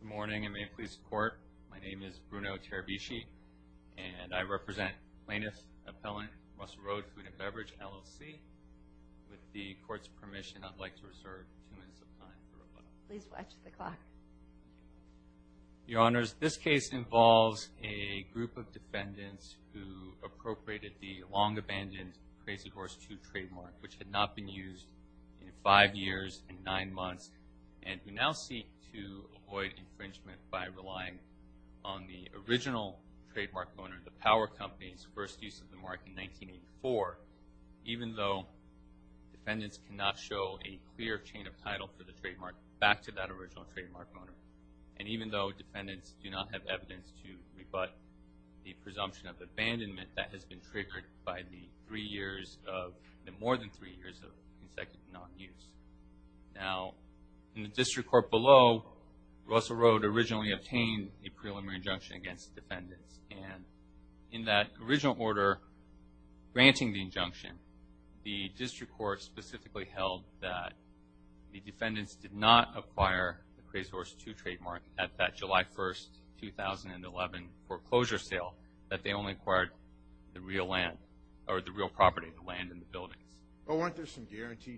Good morning and may it please the court, my name is Bruno Terabici and I represent Plainness Appellant Russell Road Food and Beverage LLC. With the court's permission I'd like to reserve two minutes of time. Please watch the clock. Your honors, this case involves a group of defendants who appropriated the long abandoned Crazy Horse 2 trademark which had not been used in five years and nine years to avoid infringement by relying on the original trademark owner, the power company's first use of the mark in 1984 even though defendants cannot show a clear chain of title for the trademark back to that original trademark owner and even though defendants do not have evidence to rebut the presumption of abandonment that has been triggered by the three years of the more than three years of non-use. Now in the district court below, Russell Road originally obtained a preliminary injunction against the defendants and in that original order granting the injunction the district court specifically held that the defendants did not acquire the Crazy Horse 2 trademark at that July 1st 2011 foreclosure sale that they only acquired the real land or the real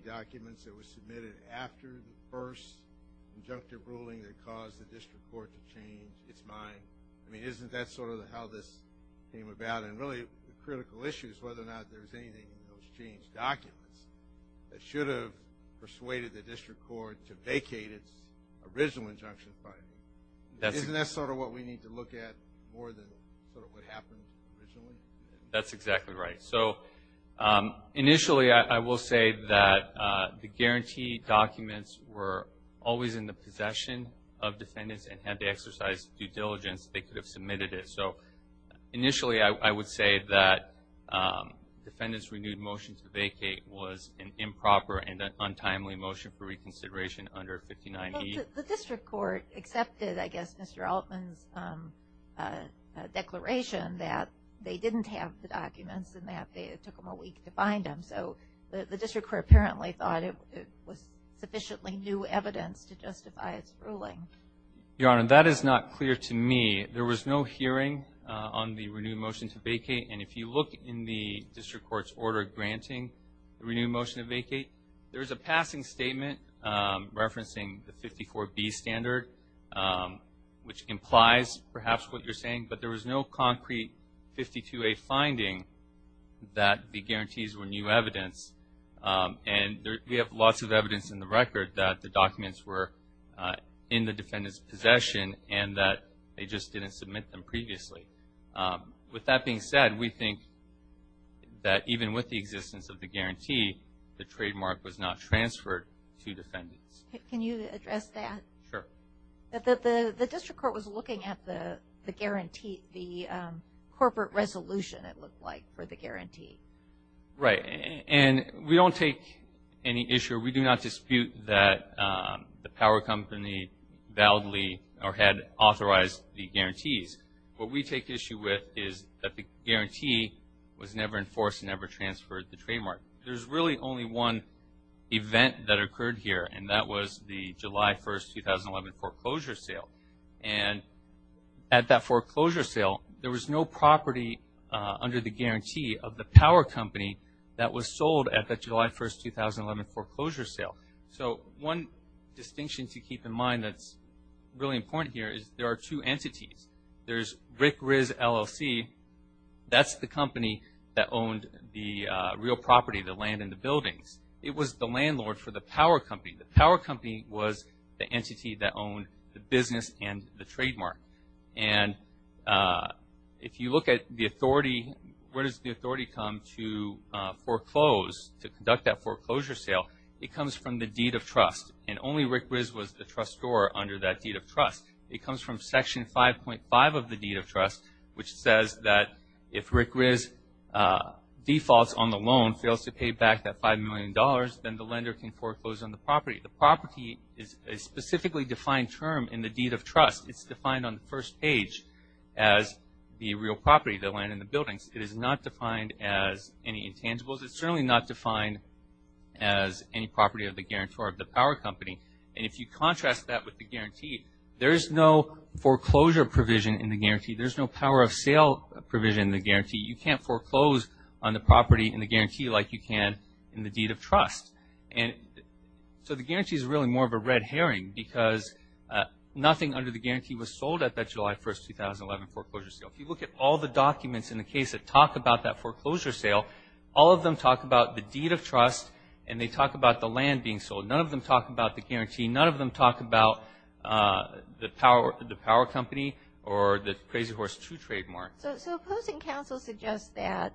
documents that were submitted after the first injunctive ruling that caused the district court to change its mind. I mean isn't that sort of how this came about and really the critical issue is whether or not there's anything in those changed documents that should have persuaded the district court to vacate its original injunction file. Isn't that sort of what we need to look at more than what That's exactly right. So initially I will say that the guarantee documents were always in the possession of defendants and had to exercise due diligence they could have submitted it. So initially I would say that defendants renewed motion to vacate was an improper and an untimely motion for reconsideration under 59E. The district court accepted I guess Mr. Altman's declaration that they didn't have the documents and that it took them a week to find them. So the district court apparently thought it was sufficiently new evidence to justify its ruling. Your Honor, that is not clear to me. There was no hearing on the renewed motion to vacate and if you look in the district court's order granting the passing statement referencing the 54B standard which implies perhaps what you're saying but there was no concrete 52A finding that the guarantees were new evidence and there we have lots of evidence in the record that the documents were in the defendant's possession and that they just didn't submit them previously. With that being said we think that even with the transfer to defendants. Can you address that? Sure. That the district court was looking at the guarantee the corporate resolution it looked like for the guarantee. Right and we don't take any issue we do not dispute that the power company validly or had authorized the guarantees. What we take issue with is that the guarantee was never enforced never transferred the trademark. There's really only one event that occurred here and that was the July 1st 2011 foreclosure sale and at that foreclosure sale there was no property under the guarantee of the power company that was sold at the July 1st 2011 foreclosure sale. So one distinction to keep in mind that's really important here is there are two entities. There's Rick Riz LLC that's the company that owned the real estate and the buildings. It was the landlord for the power company. The power company was the entity that owned the business and the trademark and if you look at the authority where does the authority come to foreclose to conduct that foreclosure sale it comes from the deed of trust and only Rick Riz was the trustor under that deed of trust. It comes from section 5.5 of the deed of trust. It's defined on the first page as the real property that land in the buildings. It is not defined as any intangibles. It's certainly not defined as any property of the guarantor of the power company and if you contrast that with the guarantee there is no foreclosure provision in the guarantee. There's no power of sale provision in the guarantee. You can't foreclose on the property in the guarantee like you can in the deed of trust and so the guarantee is really more of a red herring because nothing under the guarantee was sold at that July 1st 2011 foreclosure sale. If you look at all the documents in the case that talk about that foreclosure sale all of them talk about the deed of trust and they talk about the land being sold. None of them talk about the guarantee. None of them talk about the power company or the Crazy Horse II trademark. So opposing counsel suggests that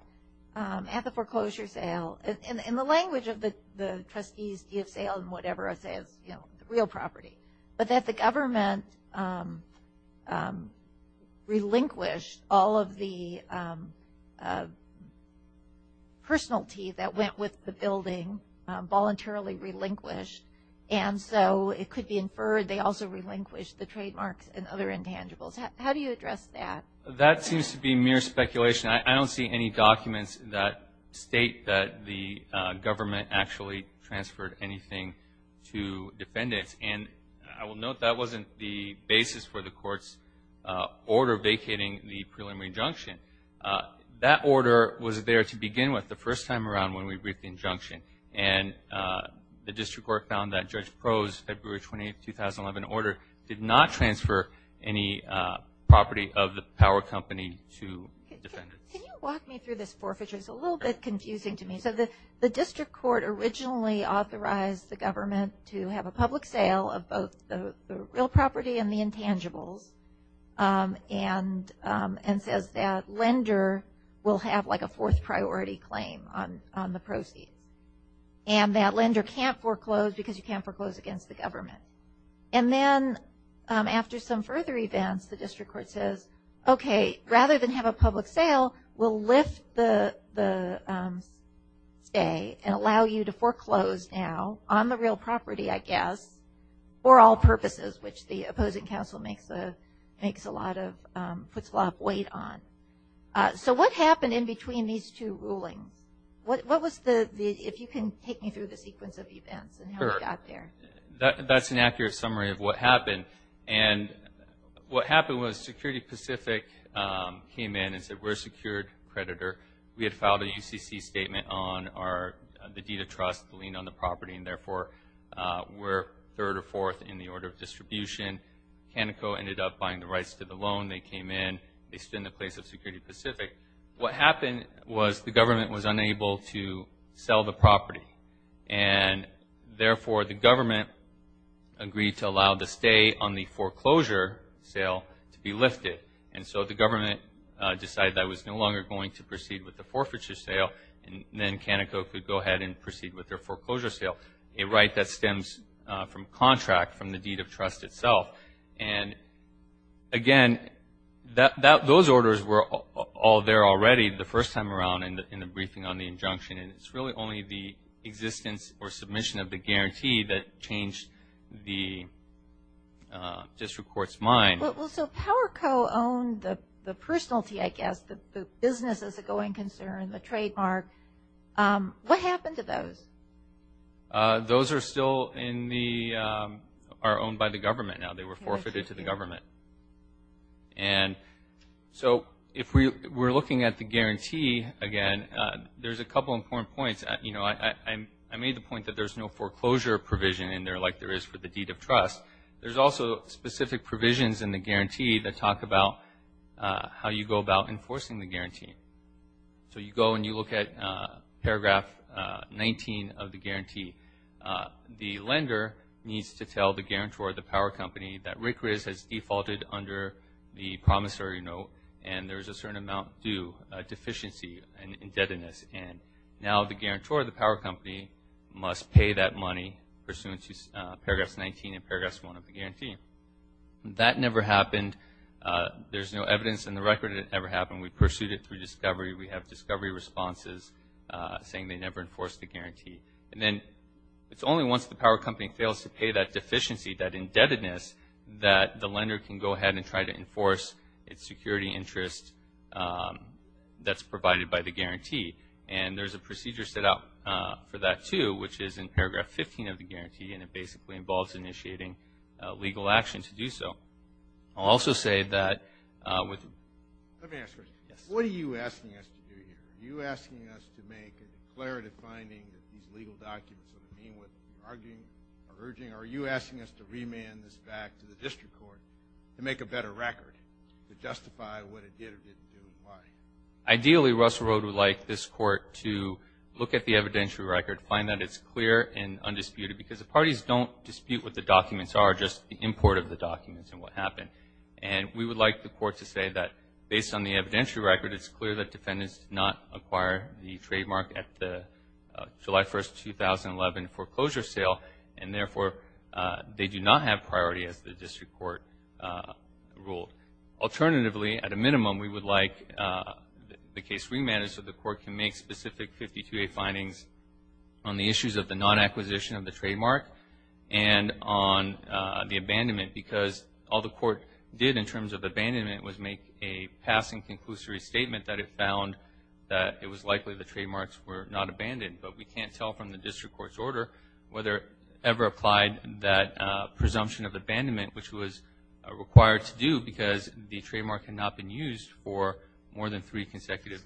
at the foreclosure sale in the language of the the trustee's deed of sale and whatever it says you know the real property but that the government relinquished all of the personality that went with the building voluntarily relinquished and so it could be inferred they also relinquished the trademarks and other intangibles. How do you address that? That seems to be mere speculation. I don't see any documents that state that the government actually transferred anything to defendants and I will note that wasn't the basis for the court's order vacating the preliminary injunction. That order was there to begin with the first time around when we briefed the injunction and the district court found that the mortgage prose February 28, 2011 order did not transfer any property of the power company to defendants. Can you walk me through this foreclosure? It's a little bit confusing to me. So the district court originally authorized the government to have a public sale of both the real property and the intangibles and and says that lender will have like a fourth priority claim on the proceeds and that lender can't foreclose because you can't foreclose against the government. And then after some further events the district court says okay rather than have a public sale we'll lift the stay and allow you to foreclose now on the real property I guess for all purposes which the opposing counsel makes a makes a lot of puts a lot of weight on. So what happened in between these two rulings? What was the, if you can take me through the sequence of events and how we got there? That's an accurate summary of what happened and what happened was Security Pacific came in and said we're a secured creditor. We had filed a UCC statement on the deed of trust, the lien on the property and therefore we're third or fourth in the order of distribution. Canico ended up buying the rights to the loan, they came in, they spin the place of Security Pacific. What happened was the government was unable to sell the property and therefore the government agreed to allow the stay on the foreclosure sale to be lifted and so the government decided that was no longer going to proceed with the forfeiture sale and then Canico could go ahead and proceed with their foreclosure sale. A right that stems from contract from the deed of trust itself and again that those orders were all there already the first time around and in the briefing on the injunction and it's really only the existence or submission of the guarantee that changed the district court's mind. So Powerco owned the personalty I guess, the business as a going concern, the trademark. What happened to those? Those are still in the, are owned by the government now. They were forfeited to the government and so if we were looking at the I made the point that there's no foreclosure provision in there like there is for the deed of trust. There's also specific provisions in the guarantee that talk about how you go about enforcing the guarantee. So you go and you look at paragraph 19 of the guarantee. The lender needs to tell the guarantor of the power company that Rick Riz has defaulted under the promissory note and there's a certain amount due deficiency and indebtedness and now the must pay that money pursuant to paragraphs 19 and paragraphs 1 of the guarantee. That never happened. There's no evidence in the record it ever happened. We pursued it through discovery. We have discovery responses saying they never enforced the guarantee and then it's only once the power company fails to pay that deficiency, that indebtedness, that the lender can go ahead and try to enforce its security interest that's provided by the guarantee and there's a two which is in paragraph 15 of the guarantee and it basically involves initiating legal action to do so. I'll also say that with... Let me ask you a question. What are you asking us to do here? Are you asking us to make a declarative finding that these legal documents don't mean what you're arguing or urging? Are you asking us to remand this back to the district court to make a better record to justify what it did or didn't do and why? Ideally Russell Road would like this court to look at the evidentiary record to find that it's clear and undisputed because the parties don't dispute what the documents are just the import of the documents and what happened and we would like the court to say that based on the evidentiary record it's clear that defendants did not acquire the trademark at the July 1st 2011 foreclosure sale and therefore they do not have priority as the district court ruled. Alternatively at a minimum we would like the case remanded so the court can make specific 52a findings on the issues of the non-acquisition of the trademark and on the abandonment because all the court did in terms of abandonment was make a passing conclusory statement that it found that it was likely the trademarks were not abandoned but we can't tell from the district court's order whether it ever applied that presumption of abandonment which was required to do because the trademark had not been used for more than three consecutive...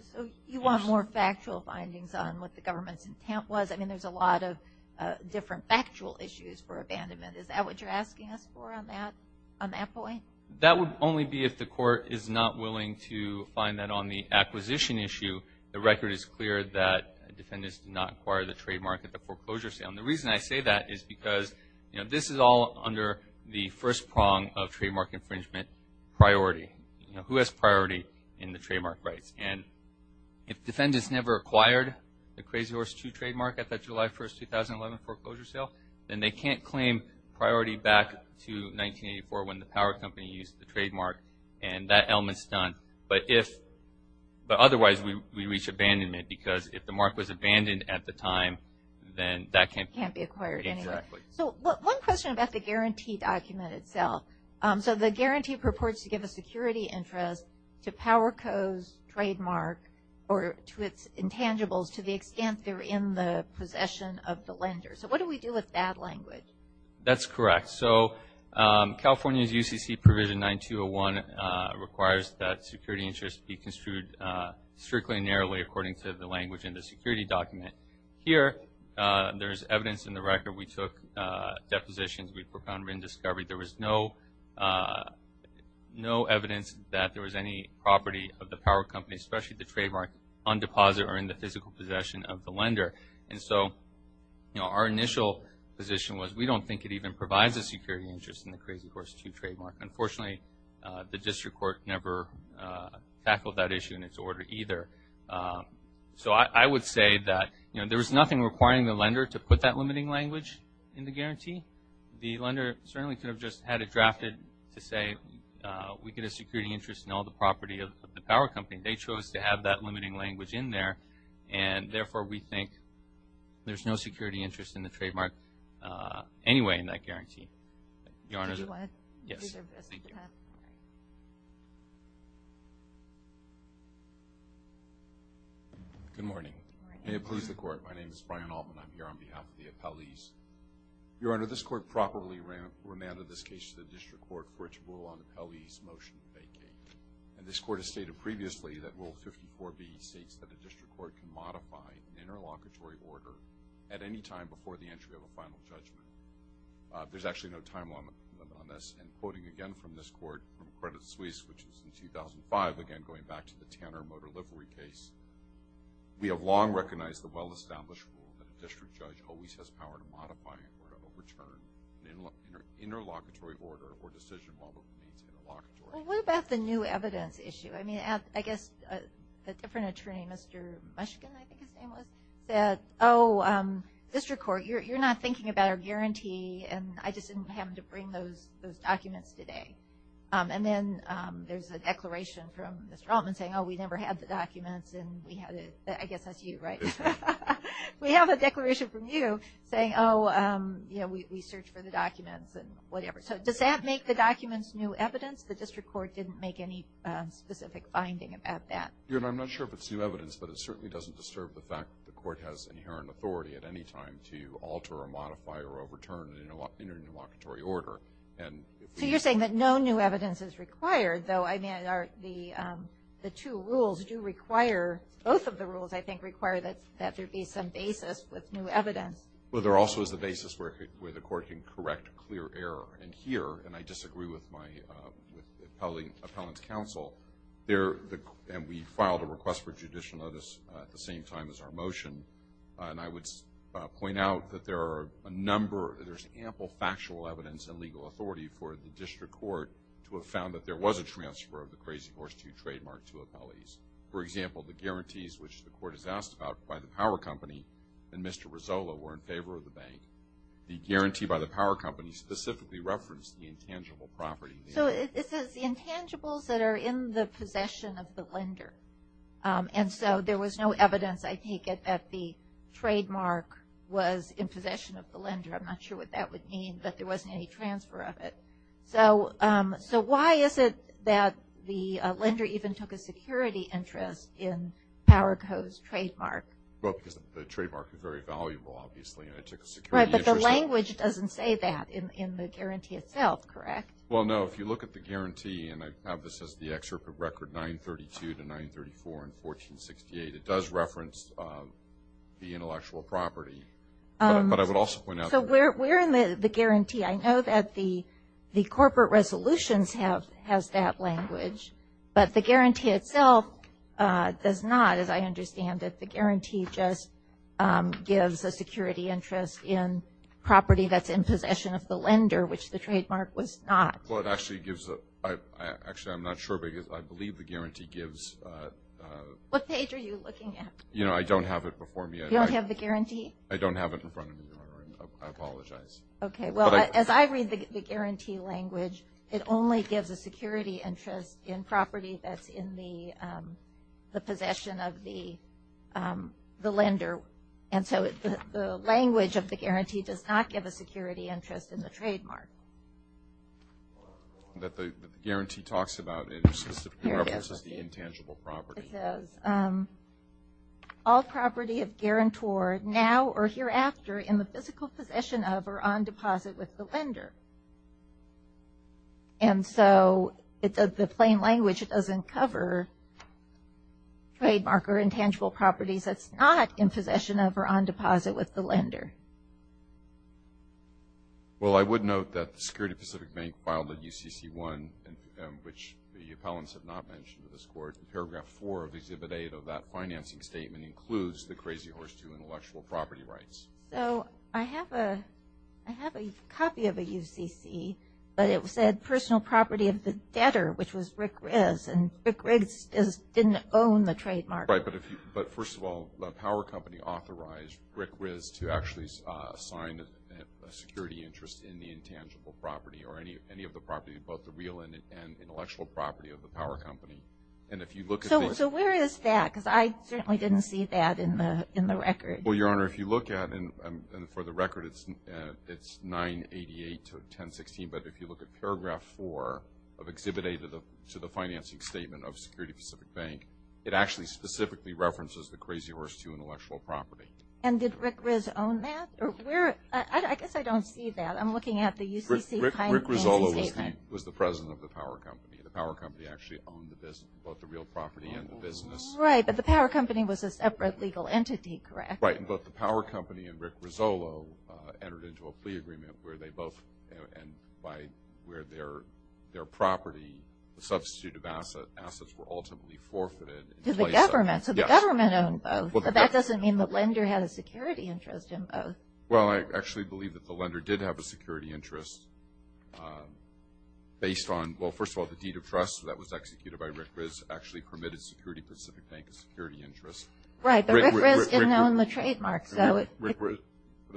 You want more factual findings on what the government's intent was I mean there's a lot of different factual issues for abandonment is that what you're asking us for on that on that point? That would only be if the court is not willing to find that on the acquisition issue the record is clear that defendants did not acquire the trademark at the foreclosure sale and the reason I say that is because you know this is all under the first prong of trademark infringement priority you know who has priority in the trademark rights and if defendants never acquired the Crazy Horse 2 trademark at that July 1st 2011 foreclosure sale then they can't claim priority back to 1984 when the power company used the trademark and that element's done but if but otherwise we reach abandonment because if the mark was abandoned at the time then that can't be acquired. So one question about the guarantee document itself so the guarantee purports to give a security interest to Powerco's trademark or to its intangibles to the extent they're in the possession of the lender so what do we do with that language? That's correct so California's UCC provision 9201 requires that security interest be construed strictly narrowly according to the language in the security document here there's evidence in the record we there's no evidence that there was any property of the power company especially the trademark on deposit or in the physical possession of the lender and so you know our initial position was we don't think it even provides a security interest in the Crazy Horse 2 trademark unfortunately the district court never tackled that issue in its order either so I would say that you know there was nothing requiring the lender to put that limiting language in the guarantee the lender certainly could have just had it drafted to say we get a security interest in all the property of the power company they chose to have that limiting language in there and therefore we think there's no security interest in the trademark anyway in that guarantee. Good morning may it please the court my name is Brian Altman I'm here on behalf of the appellees your honor this court properly remanded this case to the district court for its rule on the appellees motion vacate and this court has stated previously that rule 54B states that the district court can modify an interlocutory order at any time before the entry of a final judgment there's actually no timeline on this and quoting again from this court from Credit Suisse which is in 2005 again going back to the Tanner motor livery case we have long recognized the well-established rule that a district judge always has power to modify or overturn an interlocutory order or decision. What about the new evidence issue I mean I guess a different attorney Mr. Mushkin I think his name was that oh district court you're not thinking about our guarantee and I just didn't happen to bring those those documents today and then there's a declaration from Mr. Altman saying oh we never had the documents and we had it I guess that's you right we have a declaration from you saying oh you know we search for the documents and whatever so does that make the documents new evidence the district court didn't make any specific finding about that. I'm not sure if it's new evidence but it certainly doesn't disturb the fact the court has inherent authority at any time to alter or modify or overturn an interlocutory order. So you're saying that no new evidence is required though I mean are the the two rules do require both of the rules I think require that that there be some basis with new evidence. Well there also is the basis where the court can correct clear error and here and I disagree with my appellate counsel there and we filed a request for judicial notice at the same time as our motion and I would point out that there are a number there's ample factual evidence and legal authority for the district court to have found that there was a transfer of the crazy horse to trademark to appellees. For example the guarantees which the court is asked about by the power company and Mr. Rizzolo were in favor of the bank. The guarantee by the power company specifically referenced the intangible property. So it says the intangibles that are in the possession of the lender and so there was no evidence I take it that the trademark was in possession of the lender I'm not sure what that would mean but there wasn't any transfer of it. So why is it that the lender even took a security interest in Power Co.'s trademark? Well because the trademark is very valuable obviously and it took a security interest. Right but the language doesn't say that in the guarantee itself correct? Well no if you look at the guarantee and I have this as the excerpt of record 932 to 934 in 1468 it does reference the intellectual property but I would also point out. So we're in the guarantee I know that the the corporate resolutions have has that language but the guarantee itself does not as I understand it the guarantee just gives a security interest in property that's in possession of the lender which the trademark was not. Well it actually gives a actually I'm not sure because I believe the guarantee gives. What page are you looking at? You know I don't have it before me. You don't have the guarantee? I don't have it in front of me. I apologize. Okay well as I read the guarantee language it only gives a security interest in property that's in the the possession of the the lender and so the language of the guarantee does not give a security interest in the trademark. That the guarantee talks about it specifically references the intangible property. It does. All property of hereafter in the physical possession of or on deposit with the lender and so it's a the plain language it doesn't cover trademark or intangible properties that's not in possession of or on deposit with the lender. Well I would note that the Security Pacific Bank filed a UCC 1 and which the appellants have not mentioned to this court in paragraph 4 of exhibit 8 of that So I have a I have a copy of a UCC but it said personal property of the debtor which was Rick Riz and Rick Riz didn't own the trademark. Right but if you but first of all the power company authorized Rick Riz to actually sign a security interest in the intangible property or any of the property both the real and intellectual property of the power company and if you look at this. So where is that because I certainly didn't see that in the in the record. Well your look at and for the record it's it's 988 to 1016 but if you look at paragraph 4 of exhibit 8 of the to the financing statement of Security Pacific Bank it actually specifically references the Crazy Horse 2 intellectual property. And did Rick Riz own that or where I guess I don't see that I'm looking at the UCC Rick Rizolo was the president of the power company. The power company actually owned the business both the real property and the business. Right but the power company and Rick Rizolo entered into a plea agreement where they both and by where their their property the substitute of asset assets were ultimately forfeited. To the government so the government owned both. That doesn't mean the lender had a security interest in both. Well I actually believe that the lender did have a security interest based on well first of all the deed of trust that was executed by Rick Riz actually permitted Security Pacific Bank a security interest. Right but Rick Riz didn't own the trademark. The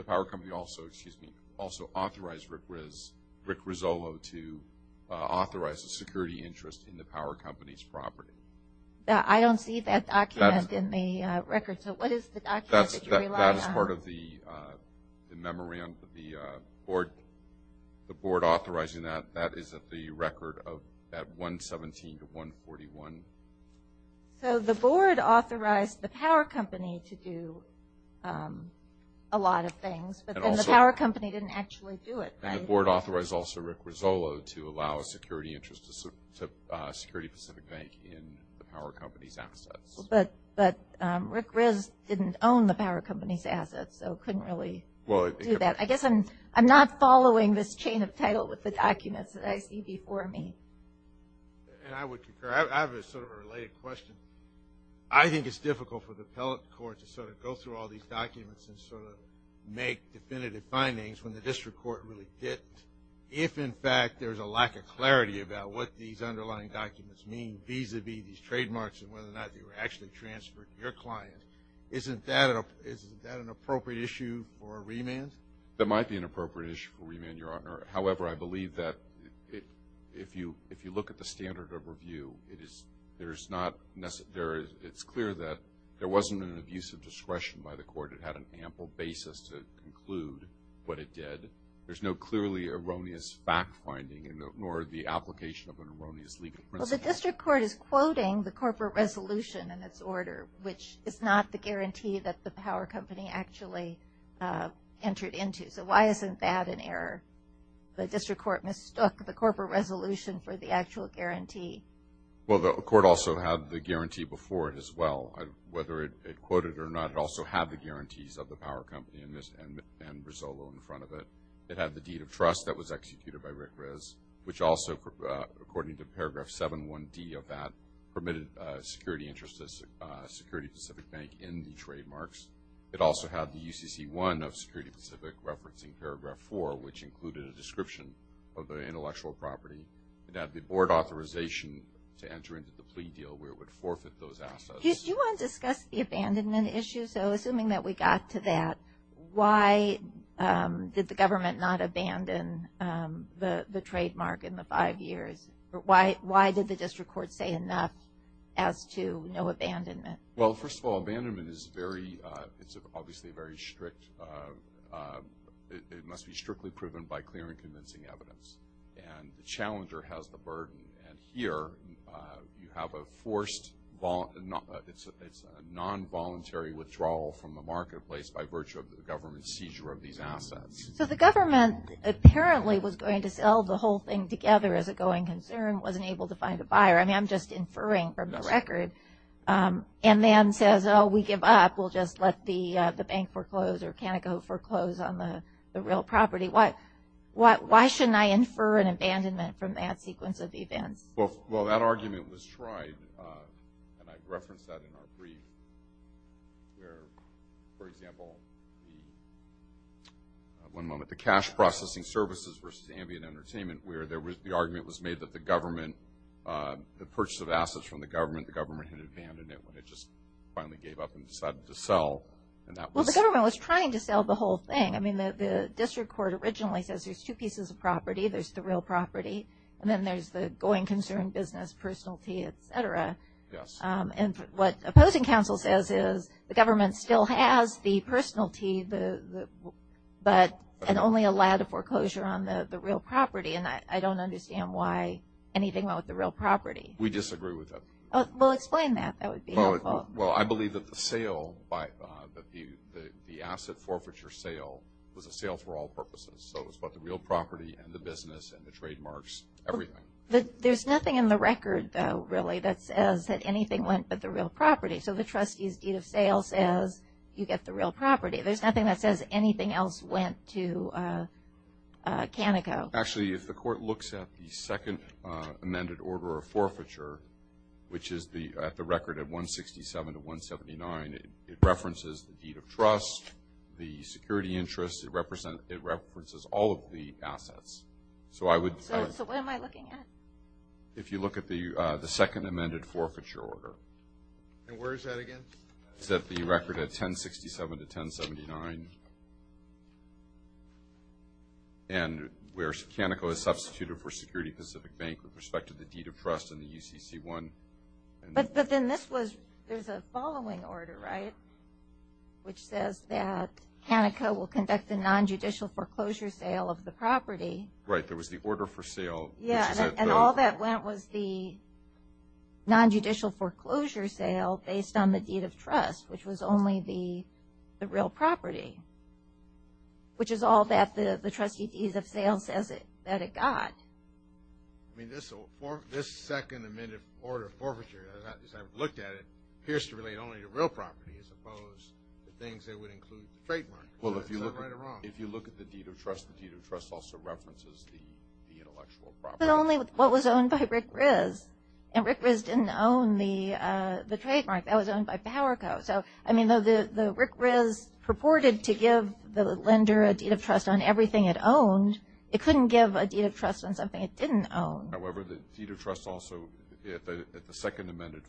power company also excuse me also authorized Rick Riz Rick Rizolo to authorize a security interest in the power company's property. I don't see that document in the record so what is the document that you rely on? That is part of the memory on the board the board authorized the power company to do a lot of things but the power company didn't actually do it. And the board authorized also Rick Rizolo to allow a security interest to Security Pacific Bank in the power company's assets. But but Rick Riz didn't own the power company's assets so couldn't really do that. I guess I'm I'm not following this chain of title with the documents that I see before me. And I think it's difficult for the appellate court to sort of go through all these documents and sort of make definitive findings when the district court really didn't. If in fact there's a lack of clarity about what these underlying documents mean vis-a-vis these trademarks and whether or not they were actually transferred to your client. Isn't that an appropriate issue for remand? That might be an appropriate issue for remand your honor. However I believe that if you if you look at the standard of review it is there's not it's clear that there wasn't an abuse of discretion by the court. It had an ample basis to conclude what it did. There's no clearly erroneous fact finding nor the application of an erroneous legal principle. The district court is quoting the corporate resolution in its order which is not the guarantee that the power company actually entered into. So why isn't that an error? The district court mistook the corporate resolution for the actual guarantee. Well the court also had the guarantee before it as well. Whether it quoted or not it also had the guarantees of the power company in this and Rizzolo in front of it. It had the deed of trust that was executed by Rick Rizz which also according to paragraph 7 1d of that permitted security interests as Security Pacific Bank in the trademarks. It also had the UCC 1 of Security Pacific referencing paragraph 4 which included a description of the intellectual property. It had the authorization to enter into the plea deal where it would forfeit those assets. Do you want to discuss the abandonment issue? So assuming that we got to that why did the government not abandon the the trademark in the five years? Why why did the district court say enough as to no abandonment? Well first of all abandonment is very it's obviously very strict. It must be strictly proven by clear and convincing evidence and the challenger has the burden and here you have a forced, it's a non-voluntary withdrawal from the marketplace by virtue of the government seizure of these assets. So the government apparently was going to sell the whole thing together as a going concern wasn't able to find a buyer. I mean I'm just inferring from the record and then says oh we give up we'll just let the the bank foreclose or can I go foreclose on the real property? What why shouldn't I infer an abandonment from that sequence of events? Well that argument was tried and I referenced that in our brief. For example, one moment, the cash processing services versus ambient entertainment where there was the argument was made that the government the purchase of assets from the government the government had abandoned it when it just finally gave up and decided to sell. Well the government was trying to sell the whole thing. I mean the district court originally says there's two pieces of property. There's the real property and then there's the going concern business, personality, etc. And what opposing counsel says is the government still has the personality but and only allowed a foreclosure on the real property and I don't understand why anything about the real property. We disagree with that. Well explain that. Well I believe that the sale by the the asset forfeiture sale was a sale for all purposes. So it's about the real property and the business and the trademarks everything. But there's nothing in the record though really that says that anything went but the real property. So the trustee's deed of sale says you get the real property. There's nothing that says anything else went to Canico. Actually if the court looks at the second amended order of forfeiture which is the at the record at 167 to 179 it references the deed of trust, the security interest, it represents it references all of the assets. So I would. So what am I looking at? If you look at the the second amended forfeiture order. And where is that again? It's at the record at 1067 to 1079 and where Canico is substituted for Security Pacific Bank with respect to the deed of trust in the UCC one. But then this was there's a which says that Canico will conduct a non-judicial foreclosure sale of the property. Right there was the order for sale. Yeah and all that went was the non-judicial foreclosure sale based on the deed of trust which was only the the real property. Which is all that the the trustee deed of sale says it that it got. I mean this second amended order of forfeiture as I've looked at it appears to relate only to real property as opposed to things that would include the trademark. Is that right or wrong? Well if you look at the deed of trust, the deed of trust also references the intellectual property. But only what was owned by Rick Riz and Rick Riz didn't own the the trademark that was owned by Powerco. So I mean though the the Rick Riz purported to give the lender a deed of trust on everything it owned it couldn't give a deed of trust on something it didn't own. However the deed of trust also at the second amended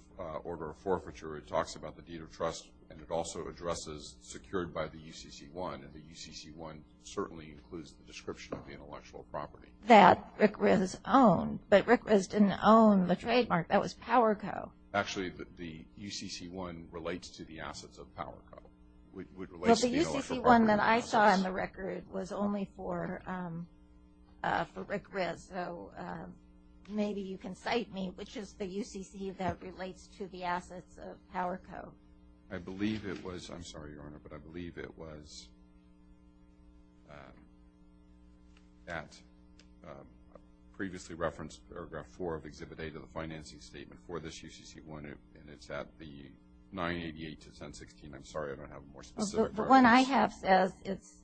order for forfeiture it talks about the deed of trust and it also addresses secured by the UCC-1 and the UCC-1 certainly includes the description of the intellectual property. That Rick Riz owned but Rick Riz didn't own the trademark that was Powerco. Actually the UCC-1 relates to the assets of Powerco. Well the UCC-1 that I saw on the record was only for Rick Riz so maybe you can cite me which is the UCC that relates to the assets of Powerco. I believe it was I'm sorry your honor but I believe it was that previously referenced paragraph 4 of Exhibit A to the financing statement for this UCC-1 and it's at the 988 to 1016. I'm sorry I don't have a more specific reference. The one I have says it's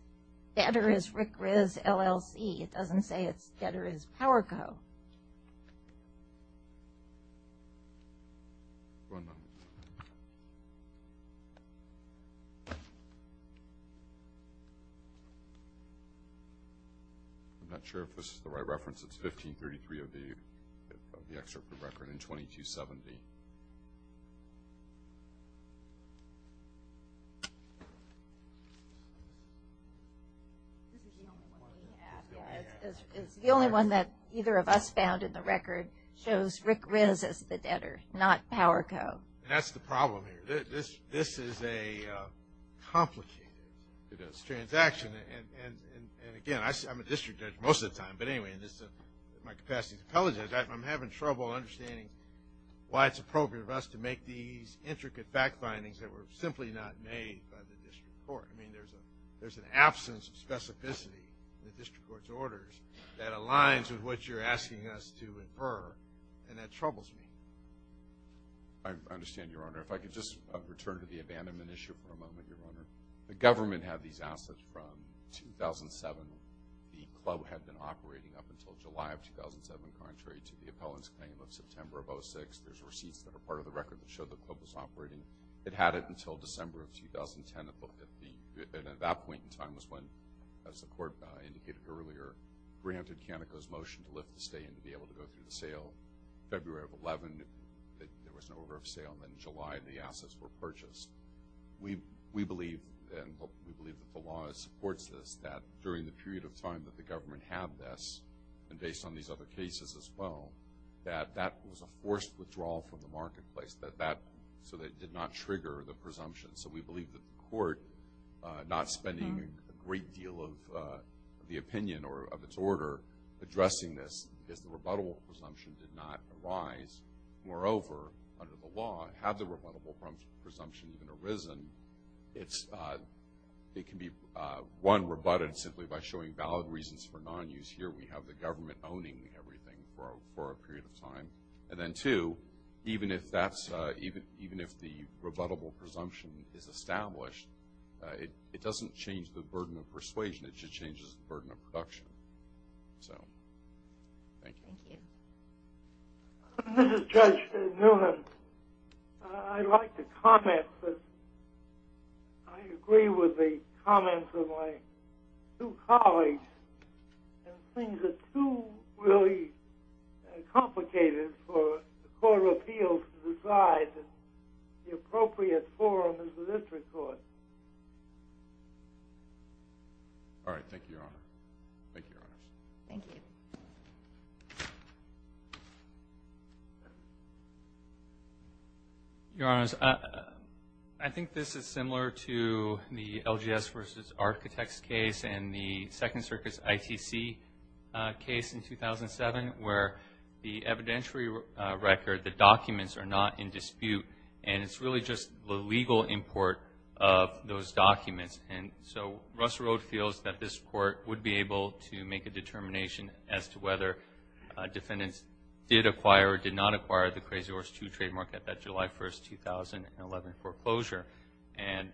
debtor is Rick Riz LLC. It doesn't say it's debtor is Powerco. I'm not sure if this is the right reference it's 1533 of the of the It's the only one that either of us found in the record shows Rick Riz as the debtor not Powerco. That's the problem here this this is a complicated transaction and again I'm a district judge most of the time but anyway in this my capacity to apologize I'm having trouble understanding why it's appropriate of us to make these I mean there's a there's an absence of specificity that aligns with what you're asking us to infer and that troubles me. I understand your honor if I could just return to the abandonment issue for a moment your honor the government had these assets from 2007 the club had been operating up until July of 2007 contrary to the appellant's claim of September of 06 there's receipts that are part of the record that showed the club was operating it had it until December of 2010 and at that point in time was when as the court indicated earlier granted Canico's motion to lift the stay and to be able to go through the sale February of 11 there was an order of sale in July the assets were purchased we we believe and we believe the law supports this that during the period of time that the government had this and based on these other cases as well that that was a forced withdrawal from the marketplace that that so that did not trigger the presumption so we believe that the court not spending a great deal of the opinion or of its order addressing this is the rebuttable presumption did not arise moreover under the law had the rebuttable presumption been arisen it's it can be one rebutted simply by showing valid reasons for non-use here we have the government owning everything for a period of time and then two even if that's even even if the rebuttable presumption is established it doesn't change the burden of persuasion it just changes burden of production so this is Judge Newman I'd like to comment that I agree with the comments of my two guys the appropriate forum is the district court all right thank you your honor thank you your honors I think this is similar to the LGS versus architects case and the Second Circus ITC case in 2007 where the evidentiary record the in dispute and it's really just the legal import of those documents and so Russell Road feels that this court would be able to make a determination as to whether defendants did acquire or did not acquire the crazy horse to trademark at that July 1st 2011 foreclosure and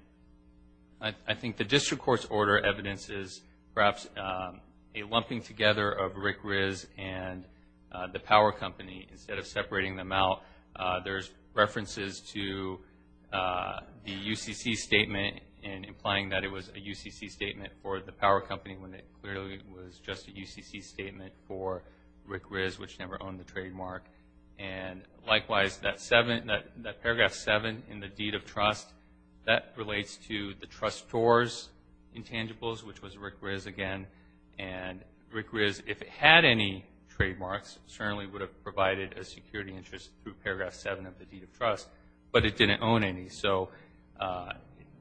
I think the district courts order evidences perhaps a lumping together of Rick Riz and the power company instead of separating them out there's references to the UCC statement and implying that it was a UCC statement for the power company when it clearly was just a UCC statement for Rick Riz which never owned the trademark and likewise that seven that paragraph seven in the deed of trust that relates to the trustors intangibles which was Rick Riz again and Rick Riz if it had any trademarks certainly would have provided a security interest through paragraph seven of the deed of trust but it didn't own any so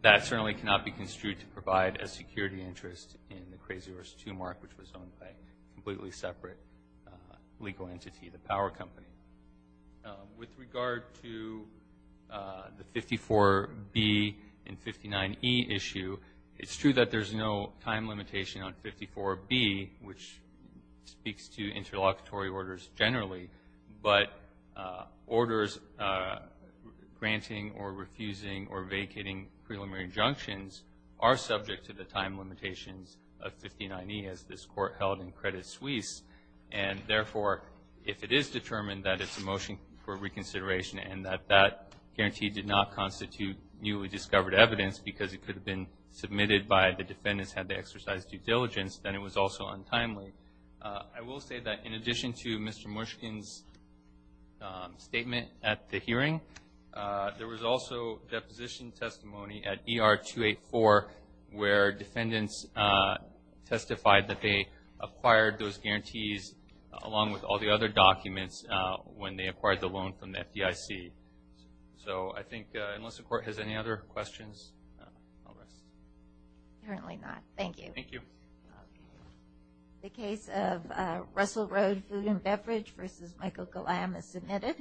that certainly cannot be construed to provide a security interest in the crazy horse to mark which was owned by completely separate legal entity the power company with regard to the 54 B and 59 e issue it's true that there's no time limitation on 54 B which speaks to interlocutory orders generally but orders granting or refusing or vacating preliminary injunctions are subject to the time limitations of 59 e as this court held in Credit Suisse and therefore if it is determined that it's a motion for reconsideration and that that guarantee did not constitute newly discovered evidence because it could have been submitted by the defendants had they exercised due diligence then it was also timely I will say that in addition to mr. Mushkin's statement at the hearing there was also deposition testimony at er 284 where defendants testified that they acquired those guarantees along with all the other documents when they acquired the loan from the FDIC so I think unless the court has any other questions currently not thank you thank you the case of Russell Road food and beverage versus Michael Kalam is submitted